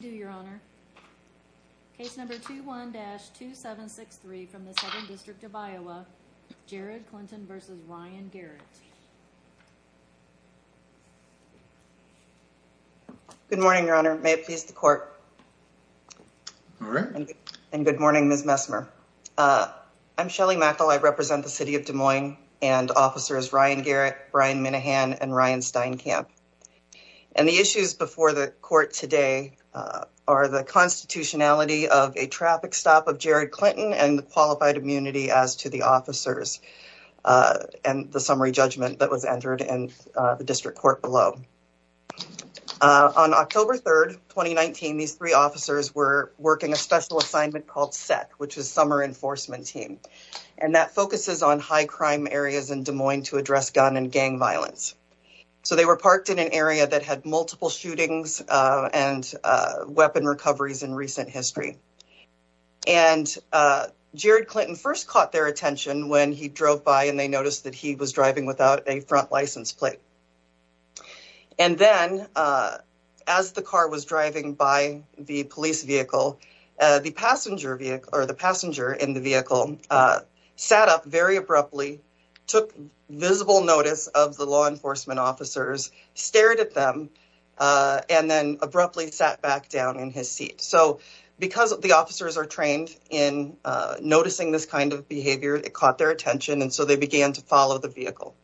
Good morning, your honor. May it please the court. Good morning, Ms. Messmer. I'm Shelly Mackel. I represent the city of Des Moines and officers Ryan Garrett, Brian Minahan, and Ryan Steinkamp. And the issues before the court today are the constitutionality of a traffic stop of Jared Clinton and the qualified immunity as to the officers and the summary judgment that was entered in the district court below. On October 3rd, 2019, these three officers were working a special assignment called SET, which is Summer Enforcement Team, and that focuses on high crime areas in Des Moines to address gun and gang violence. So they were parked in an area that had multiple shootings and weapon recoveries in recent history. And Jared Clinton first caught their attention when he drove by and they noticed that he was driving without a front license plate. And then as the car was driving by the police vehicle, the passenger vehicle or the passenger in the vehicle sat up very abruptly, took visible notice of the law enforcement officers, stared at them, and then abruptly sat back down in his seat. So because the officers are trained in noticing this kind of behavior, it caught their attention. And so they began to follow the vehicle.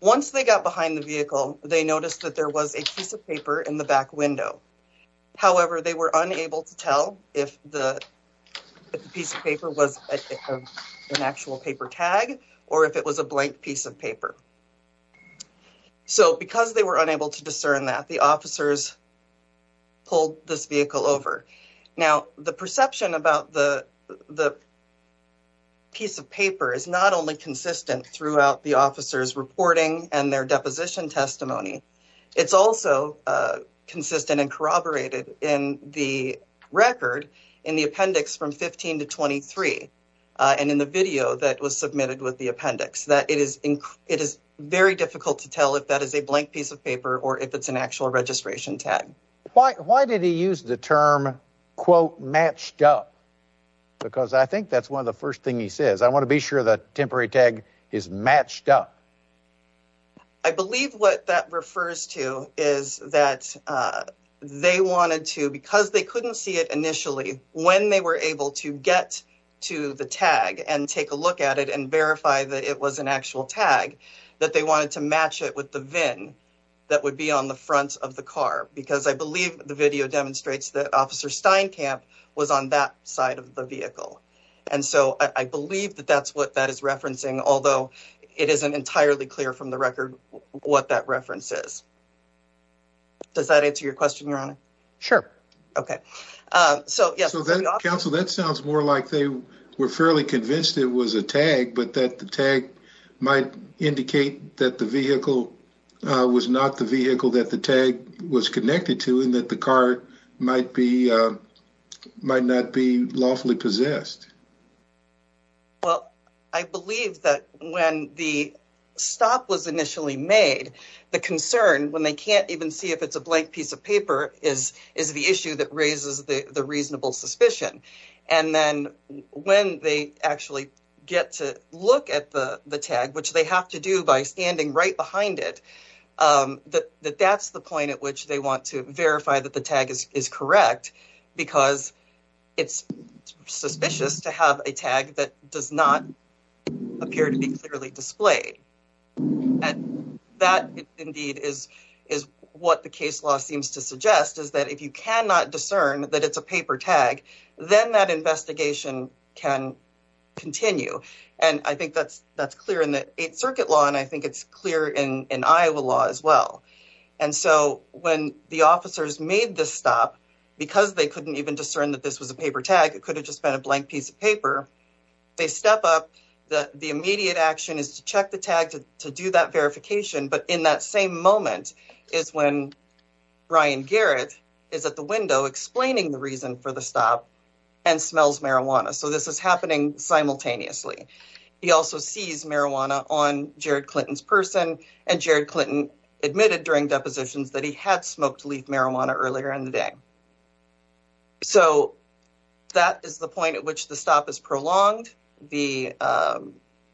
Once they got behind the vehicle, they noticed that there was a piece of paper in the back window. However, they were unable to tell if the piece of paper was an actual paper tag or if it was a blank piece of paper. So because they were unable to discern that, the officers pulled this vehicle over. Now, the perception about the piece of paper is not only consistent throughout the officers' reporting and their deposition testimony. It's also consistent and corroborated in the record in the appendix from 15 to 23 and in the video that was submitted with the appendix. It is very difficult to tell if that is a blank piece of paper or if it's an actual registration tag. Why did he use the term, quote, matched up? Because I think that's one of the first thing he says. I want to be sure the temporary tag is matched up. I believe what that refers to is that they wanted to, because they couldn't see it initially, when they were able to get to the tag and take a look at it and verify that it was an actual tag, that they wanted to match it with the VIN that would be on the front of the car. Because I believe the video demonstrates that Officer Steinkamp was on that side of the vehicle. And so I believe that that's what that is referencing, although it isn't entirely clear from the record what that reference is. Does that answer your question, Your Honor? Sure. Okay. Counsel, that sounds more like they were fairly convinced it was a tag, but that the tag might indicate that the vehicle was not the vehicle that the tag was connected to and that the car might not be lawfully possessed. Well, I believe that when the stop was initially made, the concern when they can't even see if it's a blank piece of paper is the issue that raises the reasonable suspicion. And then when they actually get to look at the tag, which they have to do by standing right behind it, that that's the point at which they want to verify that the tag is correct, because it's suspicious to have a tag that does not appear to be clearly displayed. And that, indeed, is what the case law seems to suggest, is that if you cannot discern that it's a paper tag, then that investigation can continue. And I think that's clear in the Eighth Circuit law, and I think it's clear in Iowa law as well. And so when the officers made this stop, because they couldn't even discern that this was a paper tag, it could have just been a blank piece of paper, they step up. The immediate action is to check the tag to do that verification. But in that same moment is when Brian Garrett is at the window explaining the reason for the stop and smells marijuana. So this is happening simultaneously. He also sees marijuana on Jared Clinton's person, and Jared Clinton admitted during depositions that he had smoked leaf marijuana earlier in the day. So that is the point at which the stop is prolonged. The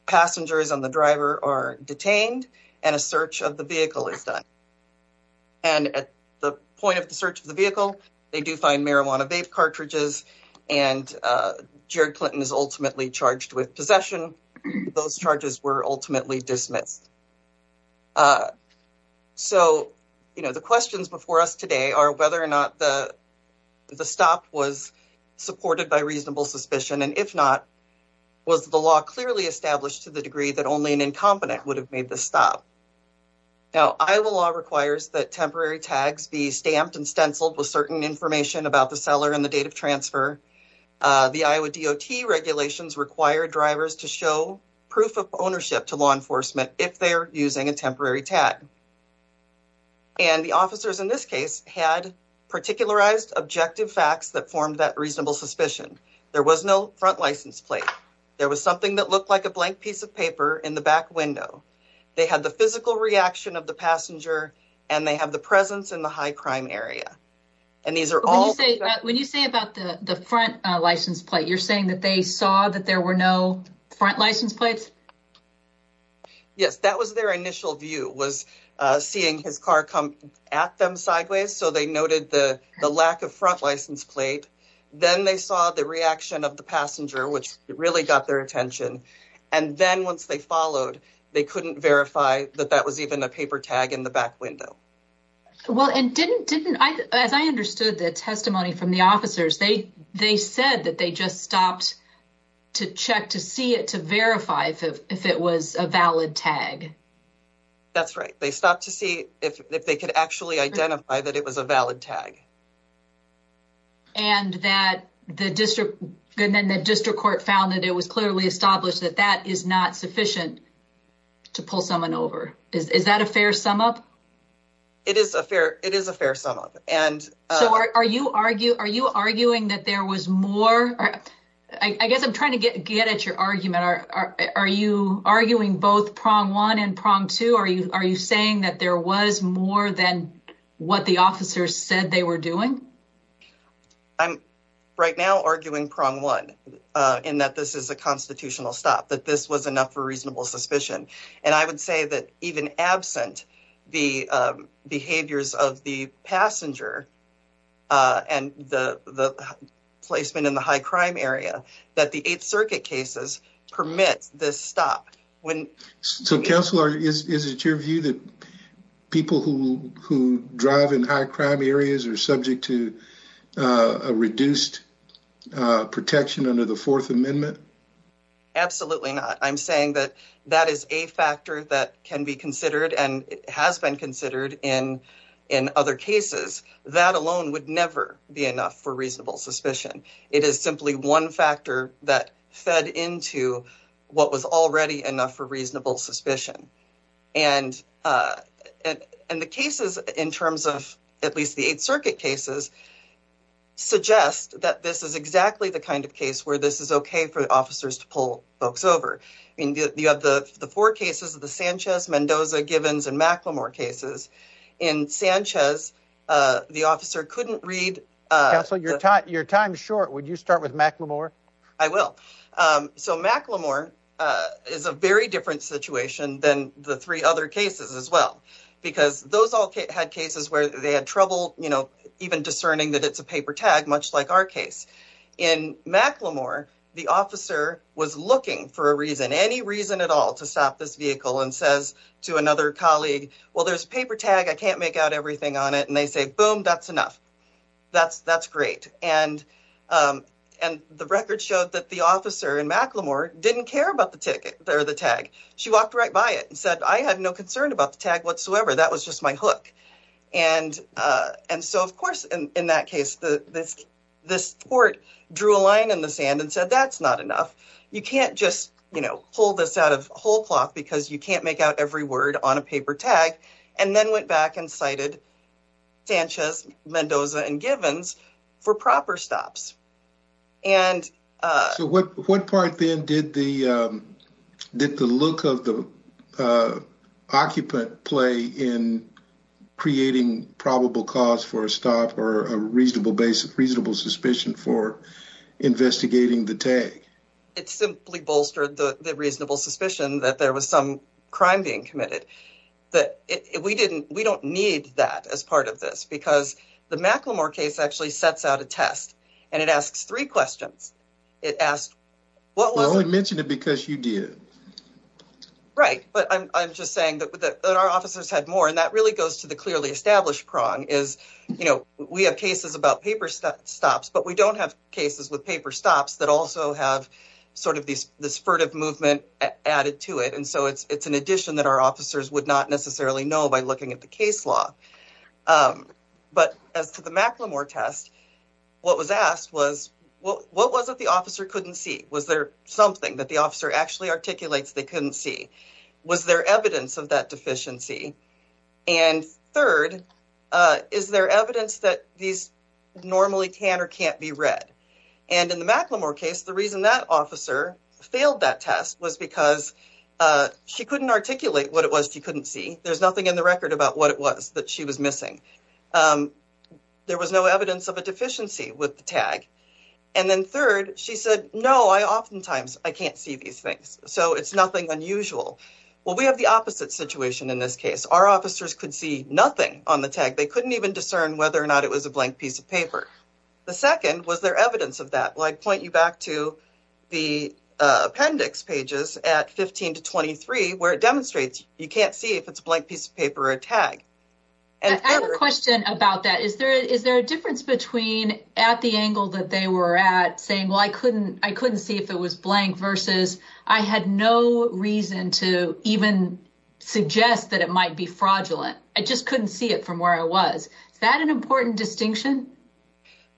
passengers and the driver are detained, and a search of the vehicle is done. And at the point of the search of the vehicle, they do find marijuana vape cartridges, and Jared Clinton is ultimately charged with possession. Those charges were ultimately dismissed. So, you know, the questions before us today are whether or not the stop was supported by reasonable suspicion. And if not, was the law clearly established to the degree that only an incompetent would have made the stop? Now, Iowa law requires that temporary tags be stamped and stenciled with certain information about the seller and the date of transfer. The Iowa DOT regulations require drivers to show proof of ownership to law enforcement if they're using a temporary tag. And the officers in this case had particularized objective facts that formed that reasonable suspicion. There was no front license plate. There was something that looked like a blank piece of paper in the back window. They had the physical reaction of the passenger, and they have the presence in the high crime area. When you say about the front license plate, you're saying that they saw that there were no front license plates? Yes, that was their initial view, was seeing his car come at them sideways. So they noted the lack of front license plate. Then they saw the reaction of the passenger, which really got their attention. And then once they followed, they couldn't verify that that was even a paper tag in the back window. Well, and didn't, as I understood the testimony from the officers, they said that they just stopped to check to see it to verify if it was a valid tag. That's right. They stopped to see if they could actually identify that it was a valid tag. And then the district court found that it was clearly established that that is not sufficient to pull someone over. Is that a fair sum up? It is a fair sum up. Are you arguing that there was more? I guess I'm trying to get at your argument. Are you arguing both prong one and prong two? Are you saying that there was more than what the officers said they were doing? I'm right now arguing prong one in that this is a constitutional stop, that this was enough for reasonable suspicion. And I would say that even absent the behaviors of the passenger and the placement in the high crime area, that the 8th Circuit cases permit this stop. So, Counselor, is it your view that people who drive in high crime areas are subject to a reduced protection under the Fourth Amendment? Absolutely not. I'm saying that that is a factor that can be considered and has been considered in other cases. That alone would never be enough for reasonable suspicion. It is simply one factor that fed into what was already enough for reasonable suspicion. And the cases, in terms of at least the 8th Circuit cases, suggest that this is exactly the kind of case where this is okay for officers to pull folks over. You have the four cases, the Sanchez, Mendoza, Givens, and McLemore cases. In Sanchez, the officer couldn't read. Counselor, your time is short. Would you start with McLemore? I will. So, McLemore is a very different situation than the three other cases as well. Because those all had cases where they had trouble even discerning that it's a paper tag, much like our case. In McLemore, the officer was looking for a reason, any reason at all, to stop this vehicle and says to another colleague, well, there's a paper tag. I can't make out everything on it. And they say, boom, that's enough. That's great. And the record showed that the officer in McLemore didn't care about the tag. She walked right by it and said, I have no concern about the tag whatsoever. That was just my hook. And so, of course, in that case, this court drew a line in the sand and said, that's not enough. You can't just, you know, pull this out of whole cloth because you can't make out every word on a paper tag. And then went back and cited Sanchez, Mendoza and Givens for proper stops. So what part then did the look of the occupant play in creating probable cause for a stop or a reasonable suspicion for investigating the tag? It simply bolstered the reasonable suspicion that there was some crime being committed. We don't need that as part of this because the McLemore case actually sets out a test and it asks three questions. It asked, well, we mentioned it because you did. Right. But I'm just saying that our officers had more. And that really goes to the clearly established prong is, you know, we have cases about paper stops, but we don't have cases with paper stops that also have sort of this furtive movement added to it. And so it's an addition that our officers would not necessarily know by looking at the case law. But as to the McLemore test, what was asked was, well, what was it the officer couldn't see? Was there something that the officer actually articulates they couldn't see? Was there evidence of that deficiency? And third, is there evidence that these normally can or can't be read? And in the McLemore case, the reason that officer failed that test was because she couldn't articulate what it was she couldn't see. There's nothing in the record about what it was that she was missing. There was no evidence of a deficiency with the tag. And then third, she said, no, I oftentimes I can't see these things. So it's nothing unusual. Well, we have the opposite situation in this case. Our officers could see nothing on the tag. They couldn't even discern whether or not it was a blank piece of paper. The second, was there evidence of that? Well, I'd point you back to the appendix pages at 15 to 23, where it demonstrates you can't see if it's a blank piece of paper or a tag. I have a question about that. Is there is there a difference between at the angle that they were at saying, well, I couldn't I couldn't see if it was blank versus I had no reason to even suggest that it might be fraudulent. I just couldn't see it from where I was. Is that an important distinction?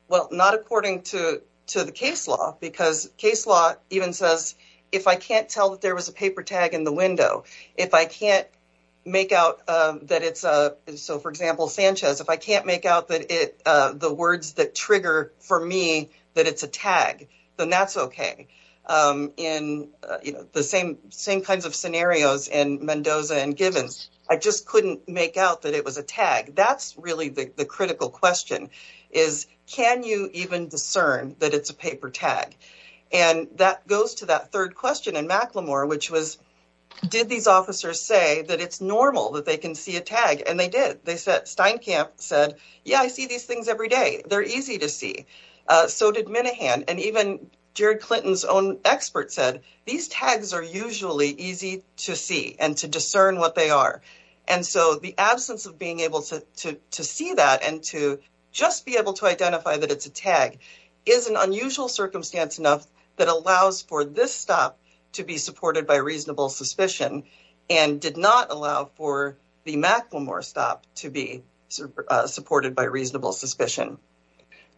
Well, not according to to the case law, because case law even says if I can't tell that there was a paper tag in the window, if I can't make out that it's a. So, for example, Sanchez, if I can't make out that it the words that trigger for me that it's a tag, then that's OK. In the same same kinds of scenarios in Mendoza and Givens, I just couldn't make out that it was a tag. That's really the critical question is, can you even discern that it's a paper tag? And that goes to that third question in McLemore, which was, did these officers say that it's normal that they can see a tag? And they did. They said Steinkamp said, yeah, I see these things every day. They're easy to see. So did Minahan. And even Jared Clinton's own expert said these tags are usually easy to see and to discern what they are. And so the absence of being able to to to see that and to just be able to identify that it's a tag is an unusual circumstance enough that allows for this stop to be supported by reasonable suspicion and did not allow for the McLemore stop to be supported by reasonable suspicion.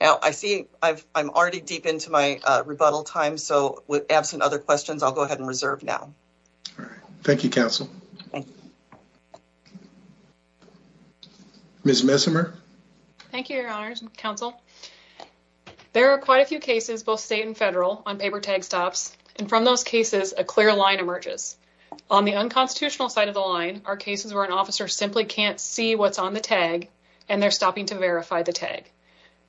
Now, I see I've I'm already deep into my rebuttal time. So with absent other questions, I'll go ahead and reserve now. All right. Thank you, counsel. Miss Messimer. Thank you, Your Honor's counsel. There are quite a few cases, both state and federal on paper tag stops. And from those cases, a clear line emerges on the unconstitutional side of the line are cases where an officer simply can't see what's on the tag and they're stopping to verify the tag.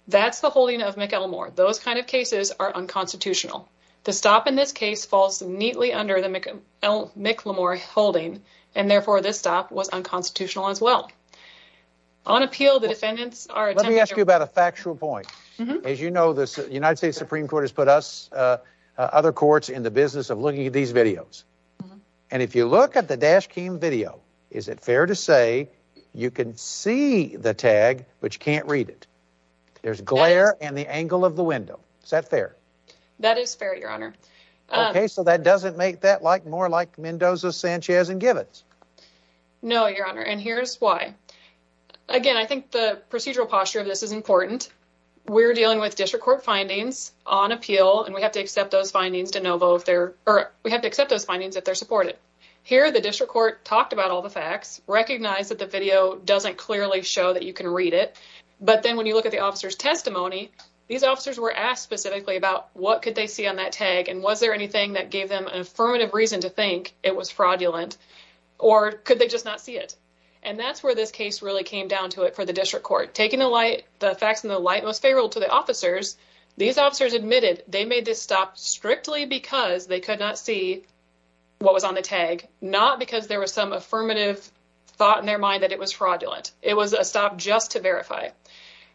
That's the holding of McLemore. Those kind of cases are unconstitutional. The stop in this case falls neatly under the McLemore holding. And therefore, this stop was unconstitutional as well on appeal. Let me ask you about a factual point. As you know, the United States Supreme Court has put us other courts in the business of looking at these videos. And if you look at the dash cam video, is it fair to say you can see the tag, but you can't read it? There's glare and the angle of the window. Is that fair? That is fair, Your Honor. OK, so that doesn't make that like more like Mendoza, Sanchez and Gibbons. No, Your Honor. And here's why. Again, I think the procedural posture of this is important. We're dealing with district court findings on appeal, and we have to accept those findings to know both there or we have to accept those findings that they're supported here. The district court talked about all the facts recognize that the video doesn't clearly show that you can read it. But then when you look at the officer's testimony, these officers were asked specifically about what could they see on that tag? And was there anything that gave them an affirmative reason to think it was fraudulent or could they just not see it? And that's where this case really came down to it for the district court. Taking the light, the facts in the light was favorable to the officers. These officers admitted they made this stop strictly because they could not see what was on the tag, not because there was some affirmative thought in their mind that it was fraudulent. It was a stop just to verify.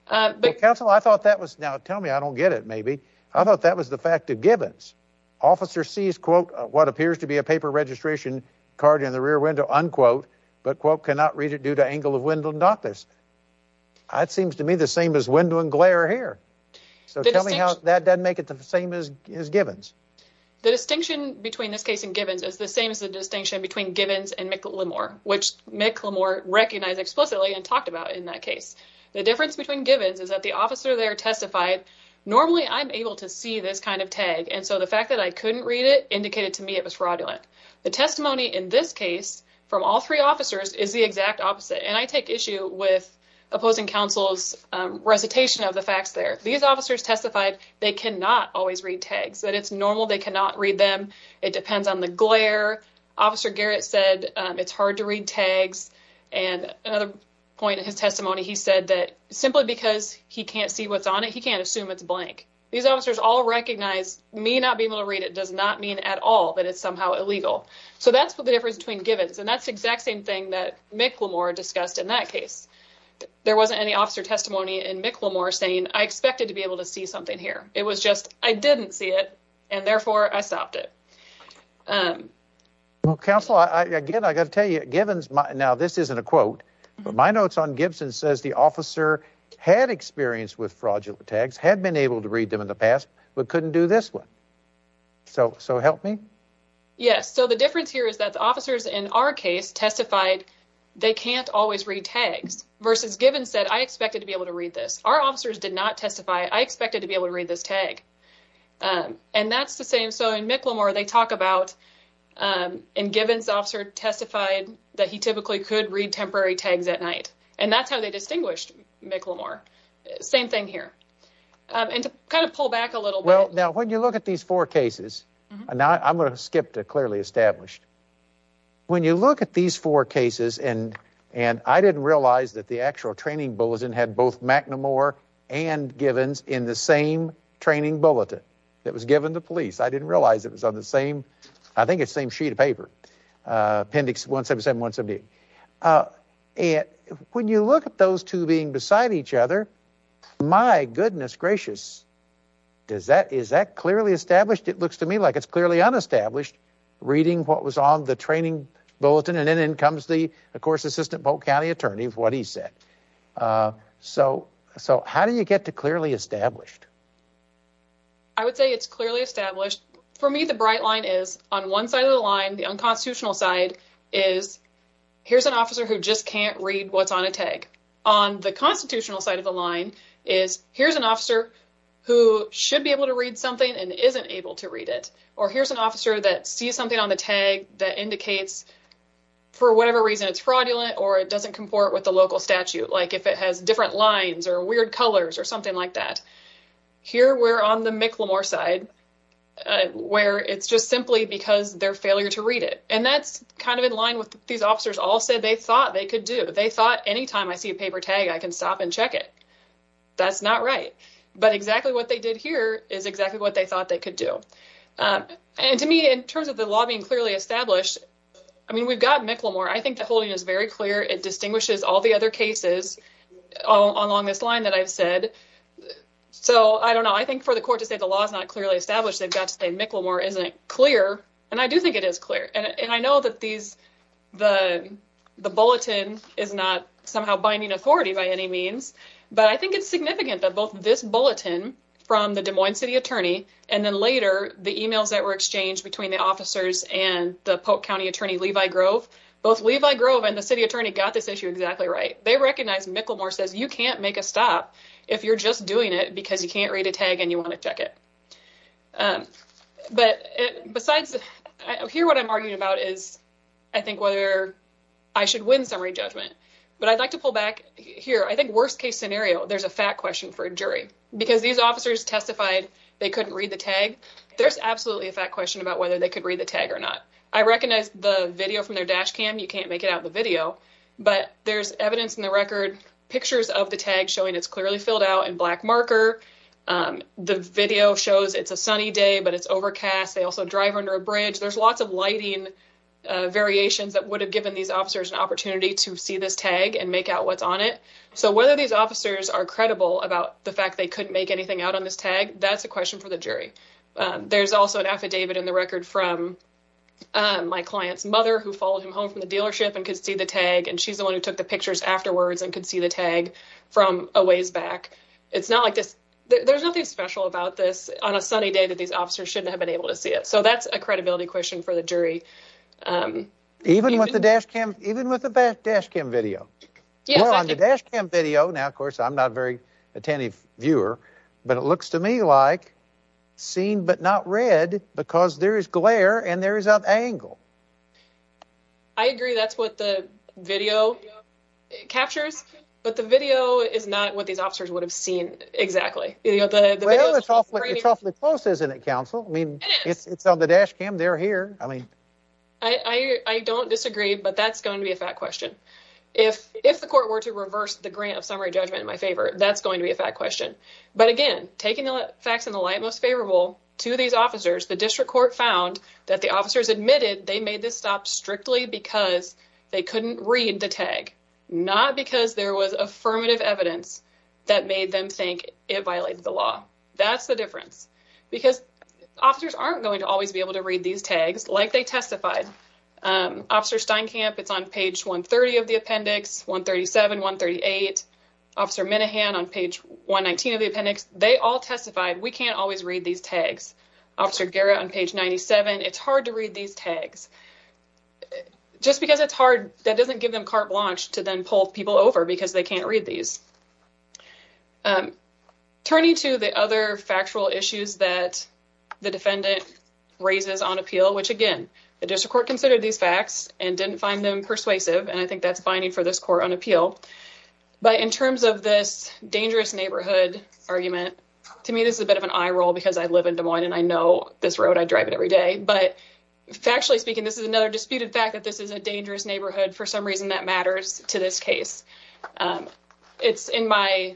Counsel, I thought that was now tell me I don't get it. Maybe I thought that was the fact of Gibbons. Officer sees, quote, what appears to be a paper registration card in the rear window, unquote, but quote, cannot read it due to angle of window and not this. It seems to me the same as window and glare here. So tell me how that doesn't make it the same as Gibbons. The distinction between this case and Gibbons is the same as the distinction between Gibbons and McLemore, which McLemore recognized explicitly and talked about in that case. The difference between Gibbons is that the officer there testified. Normally, I'm able to see this kind of tag. And so the fact that I couldn't read it indicated to me it was fraudulent. The testimony in this case from all three officers is the exact opposite. And I take issue with opposing counsel's recitation of the facts there. These officers testified they cannot always read tags, that it's normal. They cannot read them. It depends on the glare. Officer Garrett said it's hard to read tags. And another point in his testimony, he said that simply because he can't see what's on it, he can't assume it's blank. These officers all recognize me not being able to read it does not mean at all that it's somehow illegal. So that's what the difference between Gibbons. And that's the exact same thing that McLemore discussed in that case. There wasn't any officer testimony in McLemore saying I expected to be able to see something here. It was just I didn't see it, and therefore I stopped it. Counsel, again, I got to tell you, Gibbons. Now, this isn't a quote, but my notes on Gibson says the officer had experience with fraudulent tags, had been able to read them in the past, but couldn't do this one. So so help me. Yes. So the difference here is that the officers in our case testified they can't always read tags versus Gibbons said I expected to be able to read this. Our officers did not testify. I expected to be able to read this tag. And that's the same. So in McLemore, they talk about and Gibbons officer testified that he typically could read temporary tags at night. And that's how they distinguished McLemore. Same thing here. And to kind of pull back a little. Well, now, when you look at these four cases now, I'm going to skip to clearly established. When you look at these four cases and and I didn't realize that the actual training bulletin had both McLemore and Gibbons in the same training bulletin that was given to police. I didn't realize it was on the same. I think it's same sheet of paper. Appendix 177, 178. And when you look at those two being beside each other, my goodness gracious. Does that is that clearly established? It looks to me like it's clearly unestablished reading what was on the training bulletin. And then in comes the, of course, assistant Polk County attorney for what he said. So so how do you get to clearly established? I would say it's clearly established for me. The bright line is on one side of the line. The unconstitutional side is here's an officer who just can't read what's on a tag on the constitutional side of the line is here's an officer. Who should be able to read something and isn't able to read it. Or here's an officer that see something on the tag that indicates for whatever reason it's fraudulent or it doesn't comport with the local statute. Like if it has different lines or weird colors or something like that. Here we're on the McLemore side where it's just simply because their failure to read it. And that's kind of in line with these officers all said they thought they could do. They thought anytime I see a paper tag, I can stop and check it. That's not right. But exactly what they did here is exactly what they thought they could do. And to me, in terms of the lobbying clearly established, I mean, we've got McLemore. I think the holding is very clear. It distinguishes all the other cases along this line that I've said. So I don't know. I think for the court to say the law is not clearly established, they've got to say McLemore isn't clear. And I do think it is clear. And I know that the bulletin is not somehow binding authority by any means. But I think it's significant that both this bulletin from the Des Moines city attorney and then later the e-mails that were exchanged between the officers and the Polk County attorney Levi Grove, both Levi Grove and the city attorney got this issue exactly right. They recognize McLemore says you can't make a stop if you're just doing it because you can't read a tag and you want to check it. But besides here, what I'm arguing about is I think whether I should win summary judgment, but I'd like to pull back here. I think worst case scenario, there's a fact question for a jury because these officers testified they couldn't read the tag. There's absolutely a fact question about whether they could read the tag or not. I recognize the video from their dash cam. You can't make it out the video, but there's evidence in the record, pictures of the tag showing it's clearly filled out in black marker. The video shows it's a sunny day, but it's overcast. They also drive under a bridge. There's lots of lighting variations that would have given these officers an opportunity to see this tag and make out what's on it. So whether these officers are credible about the fact they couldn't make anything out on this tag, that's a question for the jury. There's also an affidavit in the record from my client's mother who followed him home from the dealership and could see the tag. And she's the one who took the pictures afterwards and could see the tag from a ways back. It's not like this. There's nothing special about this on a sunny day that these officers shouldn't have been able to see it. So that's a credibility question for the jury. Even with the dash cam, even with the dash cam video on the dash cam video. Now, of course, I'm not a very attentive viewer, but it looks to me like seen but not read because there is glare and there is an angle. I agree. That's what the video captures. But the video is not what these officers would have seen. Exactly. Well, it's awfully close, isn't it, counsel? I mean, it's on the dash cam. They're here. I mean, I don't disagree, but that's going to be a fact question. If if the court were to reverse the grant of summary judgment in my favor, that's going to be a fact question. But again, taking the facts in the light most favorable to these officers, the district court found that the officers admitted they made this stop strictly because they couldn't read the tag, not because there was affirmative evidence that made them think it violated the law. That's the difference, because officers aren't going to always be able to read these tags like they testified. Officer Steinkamp, it's on page 130 of the appendix, 137, 138. Officer Minahan on page 119 of the appendix. They all testified. We can't always read these tags. Officer Guerra on page 97. It's hard to read these tags just because it's hard. That doesn't give them carte blanche to then pull people over because they can't read these. Turning to the other factual issues that the defendant raises on appeal, which, again, the district court considered these facts and didn't find them persuasive. And I think that's binding for this court on appeal. But in terms of this dangerous neighborhood argument, to me, this is a bit of an eye roll because I live in Des Moines and I know this road. I drive it every day. But factually speaking, this is another disputed fact that this is a dangerous neighborhood. For some reason, that matters to this case. It's in my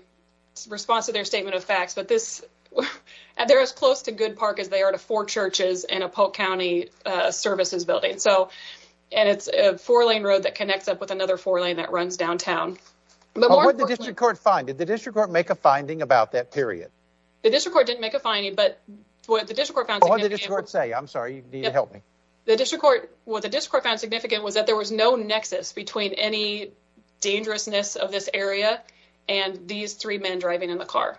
response to their statement of facts. But they're as close to Good Park as they are to four churches and a Polk County services building. And it's a four-lane road that connects up with another four-lane that runs downtown. But what did the district court find? Did the district court make a finding about that period? The district court didn't make a finding, but what the district court found significant... What did the district court say? I'm sorry. You need to help me. What the district court found significant was that there was no nexus between any dangerousness of this area and these three men driving in the car.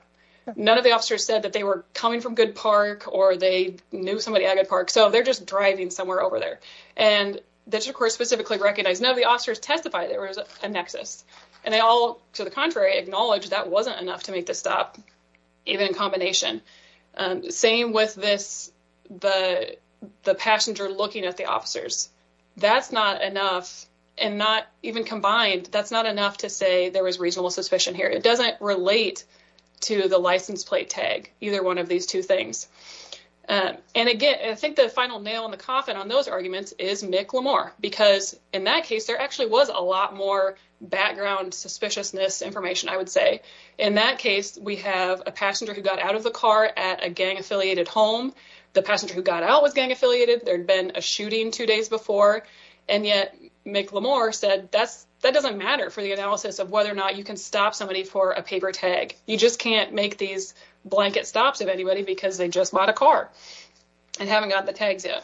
None of the officers said that they were coming from Good Park or they knew somebody at Good Park. So they're just driving somewhere over there. And the district court specifically recognized none of the officers testified there was a nexus. And they all, to the contrary, acknowledged that wasn't enough to make this stop, even in combination. Same with the passenger looking at the officers. That's not enough, and not even combined, that's not enough to say there was reasonable suspicion here. It doesn't relate to the license plate tag, either one of these two things. And again, I think the final nail in the coffin on those arguments is Nick Lamour. Because in that case, there actually was a lot more background suspiciousness information, I would say. In that case, we have a passenger who got out of the car at a gang-affiliated home. The passenger who got out was gang-affiliated. There had been a shooting two days before. And yet, Nick Lamour said that doesn't matter for the analysis of whether or not you can stop somebody for a paper tag. You just can't make these blanket stops of anybody because they just bought a car and haven't gotten the tags yet.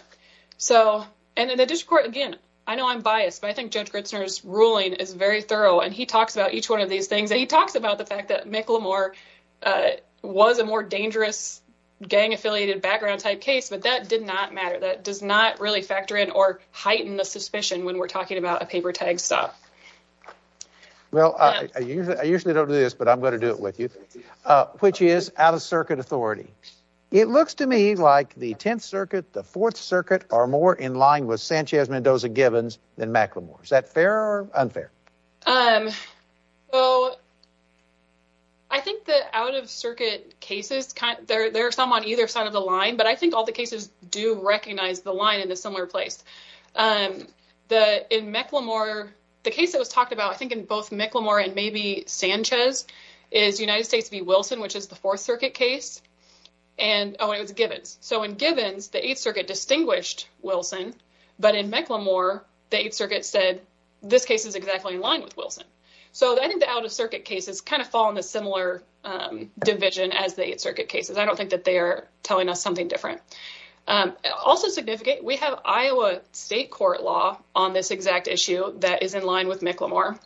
So, and in the district court, again, I know I'm biased, but I think Judge Gritzner's ruling is very thorough. And he talks about each one of these things. And he talks about the fact that Nick Lamour was a more dangerous gang-affiliated background type case. But that did not matter. That does not really factor in or heighten the suspicion when we're talking about a paper tag stop. Well, I usually don't do this, but I'm going to do it with you, which is out-of-circuit authority. It looks to me like the Tenth Circuit, the Fourth Circuit are more in line with Sanchez-Mendoza-Gibbons than Mack Lamour. Is that fair or unfair? Well, I think the out-of-circuit cases, there are some on either side of the line. But I think all the cases do recognize the line in a similar place. In Mack Lamour, the case that was talked about, I think in both Mack Lamour and maybe Sanchez, is United States v. Wilson, which is the Fourth Circuit case. And, oh, it was Gibbons. So in Gibbons, the Eighth Circuit distinguished Wilson. But in Mack Lamour, the Eighth Circuit said this case is exactly in line with Wilson. So I think the out-of-circuit cases kind of fall in a similar division as the Eighth Circuit cases. I don't think that they are telling us something different. Also significant, we have Iowa state court law on this exact issue that is in line with Mack Lamour.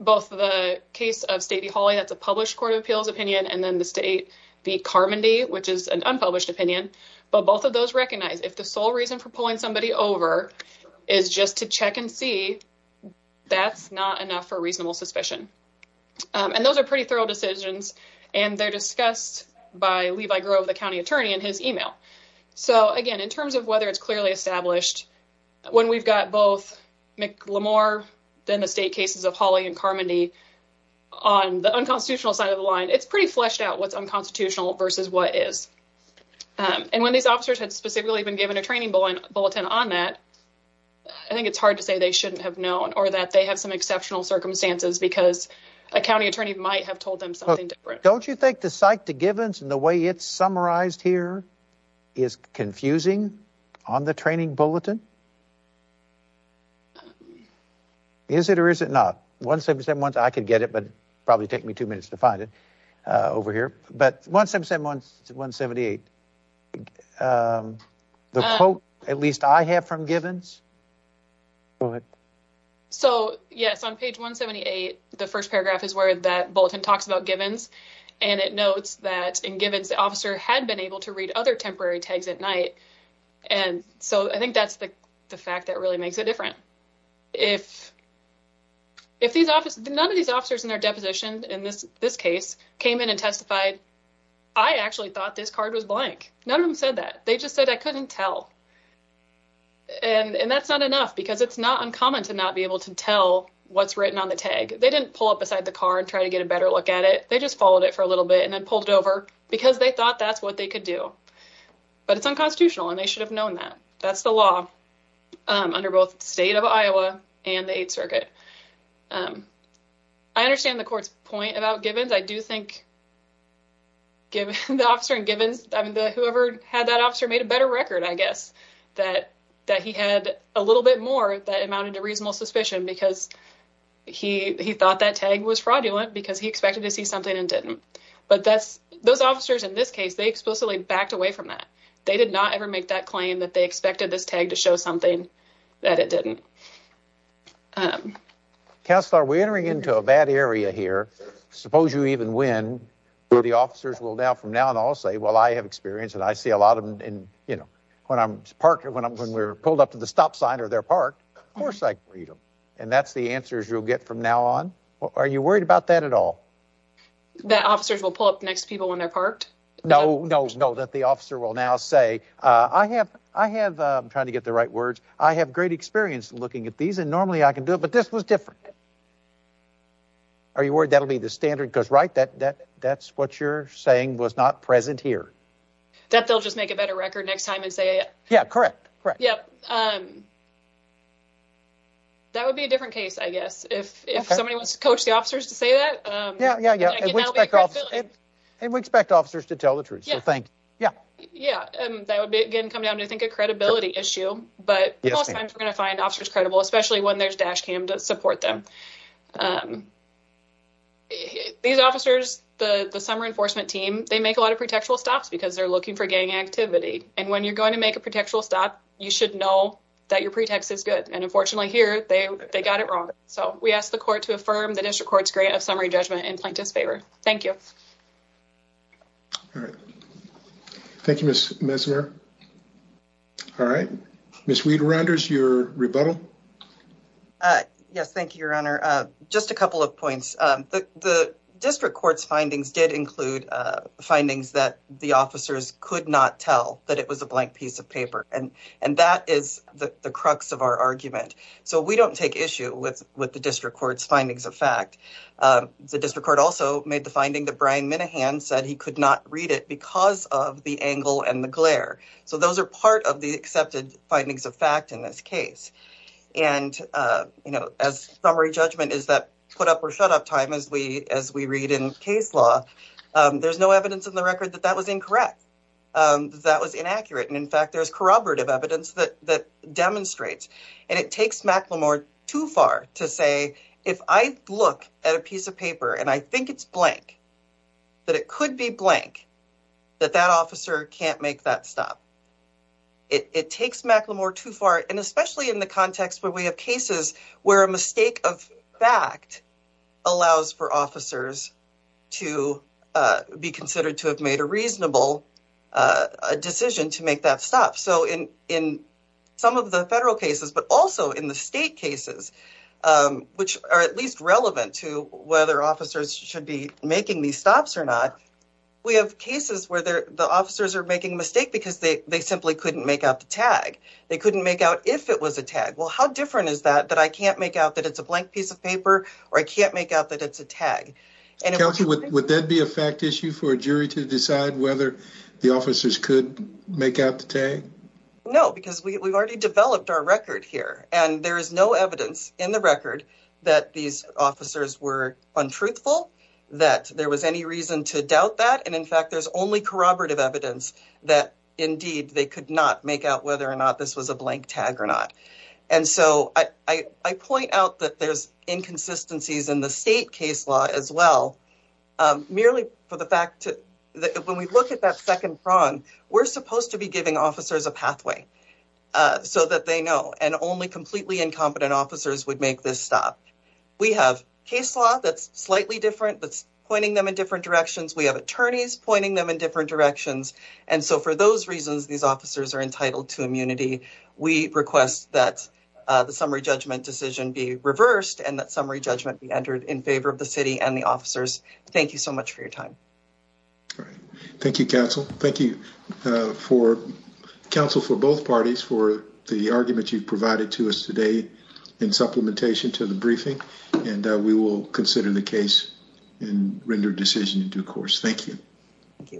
Both the case of State v. Hawley, that's a published court of appeals opinion, and then the State v. Carmody, which is an unpublished opinion. But both of those recognize if the sole reason for pulling somebody over is just to check and see, that's not enough for reasonable suspicion. And those are pretty thorough decisions, and they're discussed by Levi Grove, the county attorney, in his email. So, again, in terms of whether it's clearly established, when we've got both Mack Lamour, then the State cases of Hawley and Carmody, on the unconstitutional side of the line, it's pretty fleshed out what's unconstitutional versus what is. And when these officers had specifically been given a training bulletin on that, I think it's hard to say they shouldn't have known, or that they have some exceptional circumstances because a county attorney might have told them something different. Don't you think the cite to Givens and the way it's summarized here is confusing on the training bulletin? Is it or is it not? 177, I could get it, but it'd probably take me two minutes to find it over here. But 177, 178, the quote, at least I have from Givens. So, yes, on page 178, the first paragraph is where that bulletin talks about Givens, and it notes that in Givens, the officer had been able to read other temporary tags at night. And so I think that's the fact that really makes it different. If these officers, none of these officers in their deposition in this case, came in and testified, I actually thought this card was blank. None of them said that. They just said I couldn't tell. And that's not enough because it's not uncommon to not be able to tell what's written on the tag. They didn't pull up beside the car and try to get a better look at it. They just followed it for a little bit and then pulled it over because they thought that's what they could do. But it's unconstitutional and they should have known that. That's the law under both the state of Iowa and the Eighth Circuit. I understand the court's point about Givens. I do think whoever had that officer made a better record, I guess, that he had a little bit more that amounted to reasonable suspicion because he thought that tag was fraudulent because he expected to see something and didn't. But those officers in this case, they explicitly backed away from that. They did not ever make that claim that they expected this tag to show something that it didn't. Counselor, we're entering into a bad area here. Suppose you even win. The officers will now from now on all say, well, I have experience and I see a lot of them. And, you know, when I'm parking, when I'm when we're pulled up to the stop sign or they're parked, of course I read them. And that's the answers you'll get from now on. Are you worried about that at all? That officers will pull up next to people when they're parked? No, no, no. That the officer will now say, I have I have trying to get the right words. I have great experience looking at these and normally I can do it. But this was different. Are you worried that'll be the standard? Because, right, that that that's what you're saying was not present here. That they'll just make a better record next time and say, yeah, correct. Correct. Yeah. That would be a different case, I guess, if somebody wants to coach the officers to say that. Yeah, yeah, yeah. And we expect officers to tell the truth. Yeah. Yeah. Yeah. That would be, again, come down to, I think, a credibility issue. But we're going to find officers credible, especially when there's dash cam to support them. These officers, the summer enforcement team, they make a lot of pretextual stops because they're looking for gang activity. And when you're going to make a pretextual stop, you should know that your pretext is good. And unfortunately, here they got it wrong. So we asked the court to affirm the district court's grant of summary judgment in plaintiff's favor. Thank you. Thank you, Miss Mesmer. All right. Miss Weed-Randers, your rebuttal. Yes, thank you, Your Honor. Just a couple of points. The district court's findings did include findings that the officers could not tell, that it was a blank piece of paper. And that is the crux of our argument. So we don't take issue with the district court's findings of fact. The district court also made the finding that Brian Minahan said he could not read it because of the angle and the glare. So those are part of the accepted findings of fact in this case. And, you know, as summary judgment is that put-up-or-shut-up time, as we read in case law, there's no evidence in the record that that was incorrect, that that was inaccurate. And, in fact, there's corroborative evidence that demonstrates. And it takes McLemore too far to say, if I look at a piece of paper and I think it's blank, that it could be blank, that that officer can't make that stop. It takes McLemore too far, and especially in the context where we have cases where a mistake of fact allows for officers to be considered to have made a reasonable decision to make that stop. So in some of the federal cases, but also in the state cases, which are at least relevant to whether officers should be making these stops or not, we have cases where the officers are making a mistake because they simply couldn't make out the tag. They couldn't make out if it was a tag. Well, how different is that, that I can't make out that it's a blank piece of paper or I can't make out that it's a tag? Counsel, would that be a fact issue for a jury to decide whether the officers could make out the tag? No, because we've already developed our record here. And there is no evidence in the record that these officers were untruthful, that there was any reason to doubt that. And, in fact, there's only corroborative evidence that, indeed, they could not make out whether or not this was a blank tag or not. And so I point out that there's inconsistencies in the state case law as well, merely for the fact that when we look at that second prong, we're supposed to be giving officers a pathway so that they know. And only completely incompetent officers would make this stop. We have case law that's slightly different, that's pointing them in different directions. We have attorneys pointing them in different directions. And so for those reasons, these officers are entitled to immunity. We request that the summary judgment decision be reversed and that summary judgment be entered in favor of the city and the officers. Thank you so much for your time. Thank you, counsel. Thank you, counsel, for both parties for the argument you've provided to us today in supplementation to the briefing. And we will consider the case and render a decision in due course. Thank you.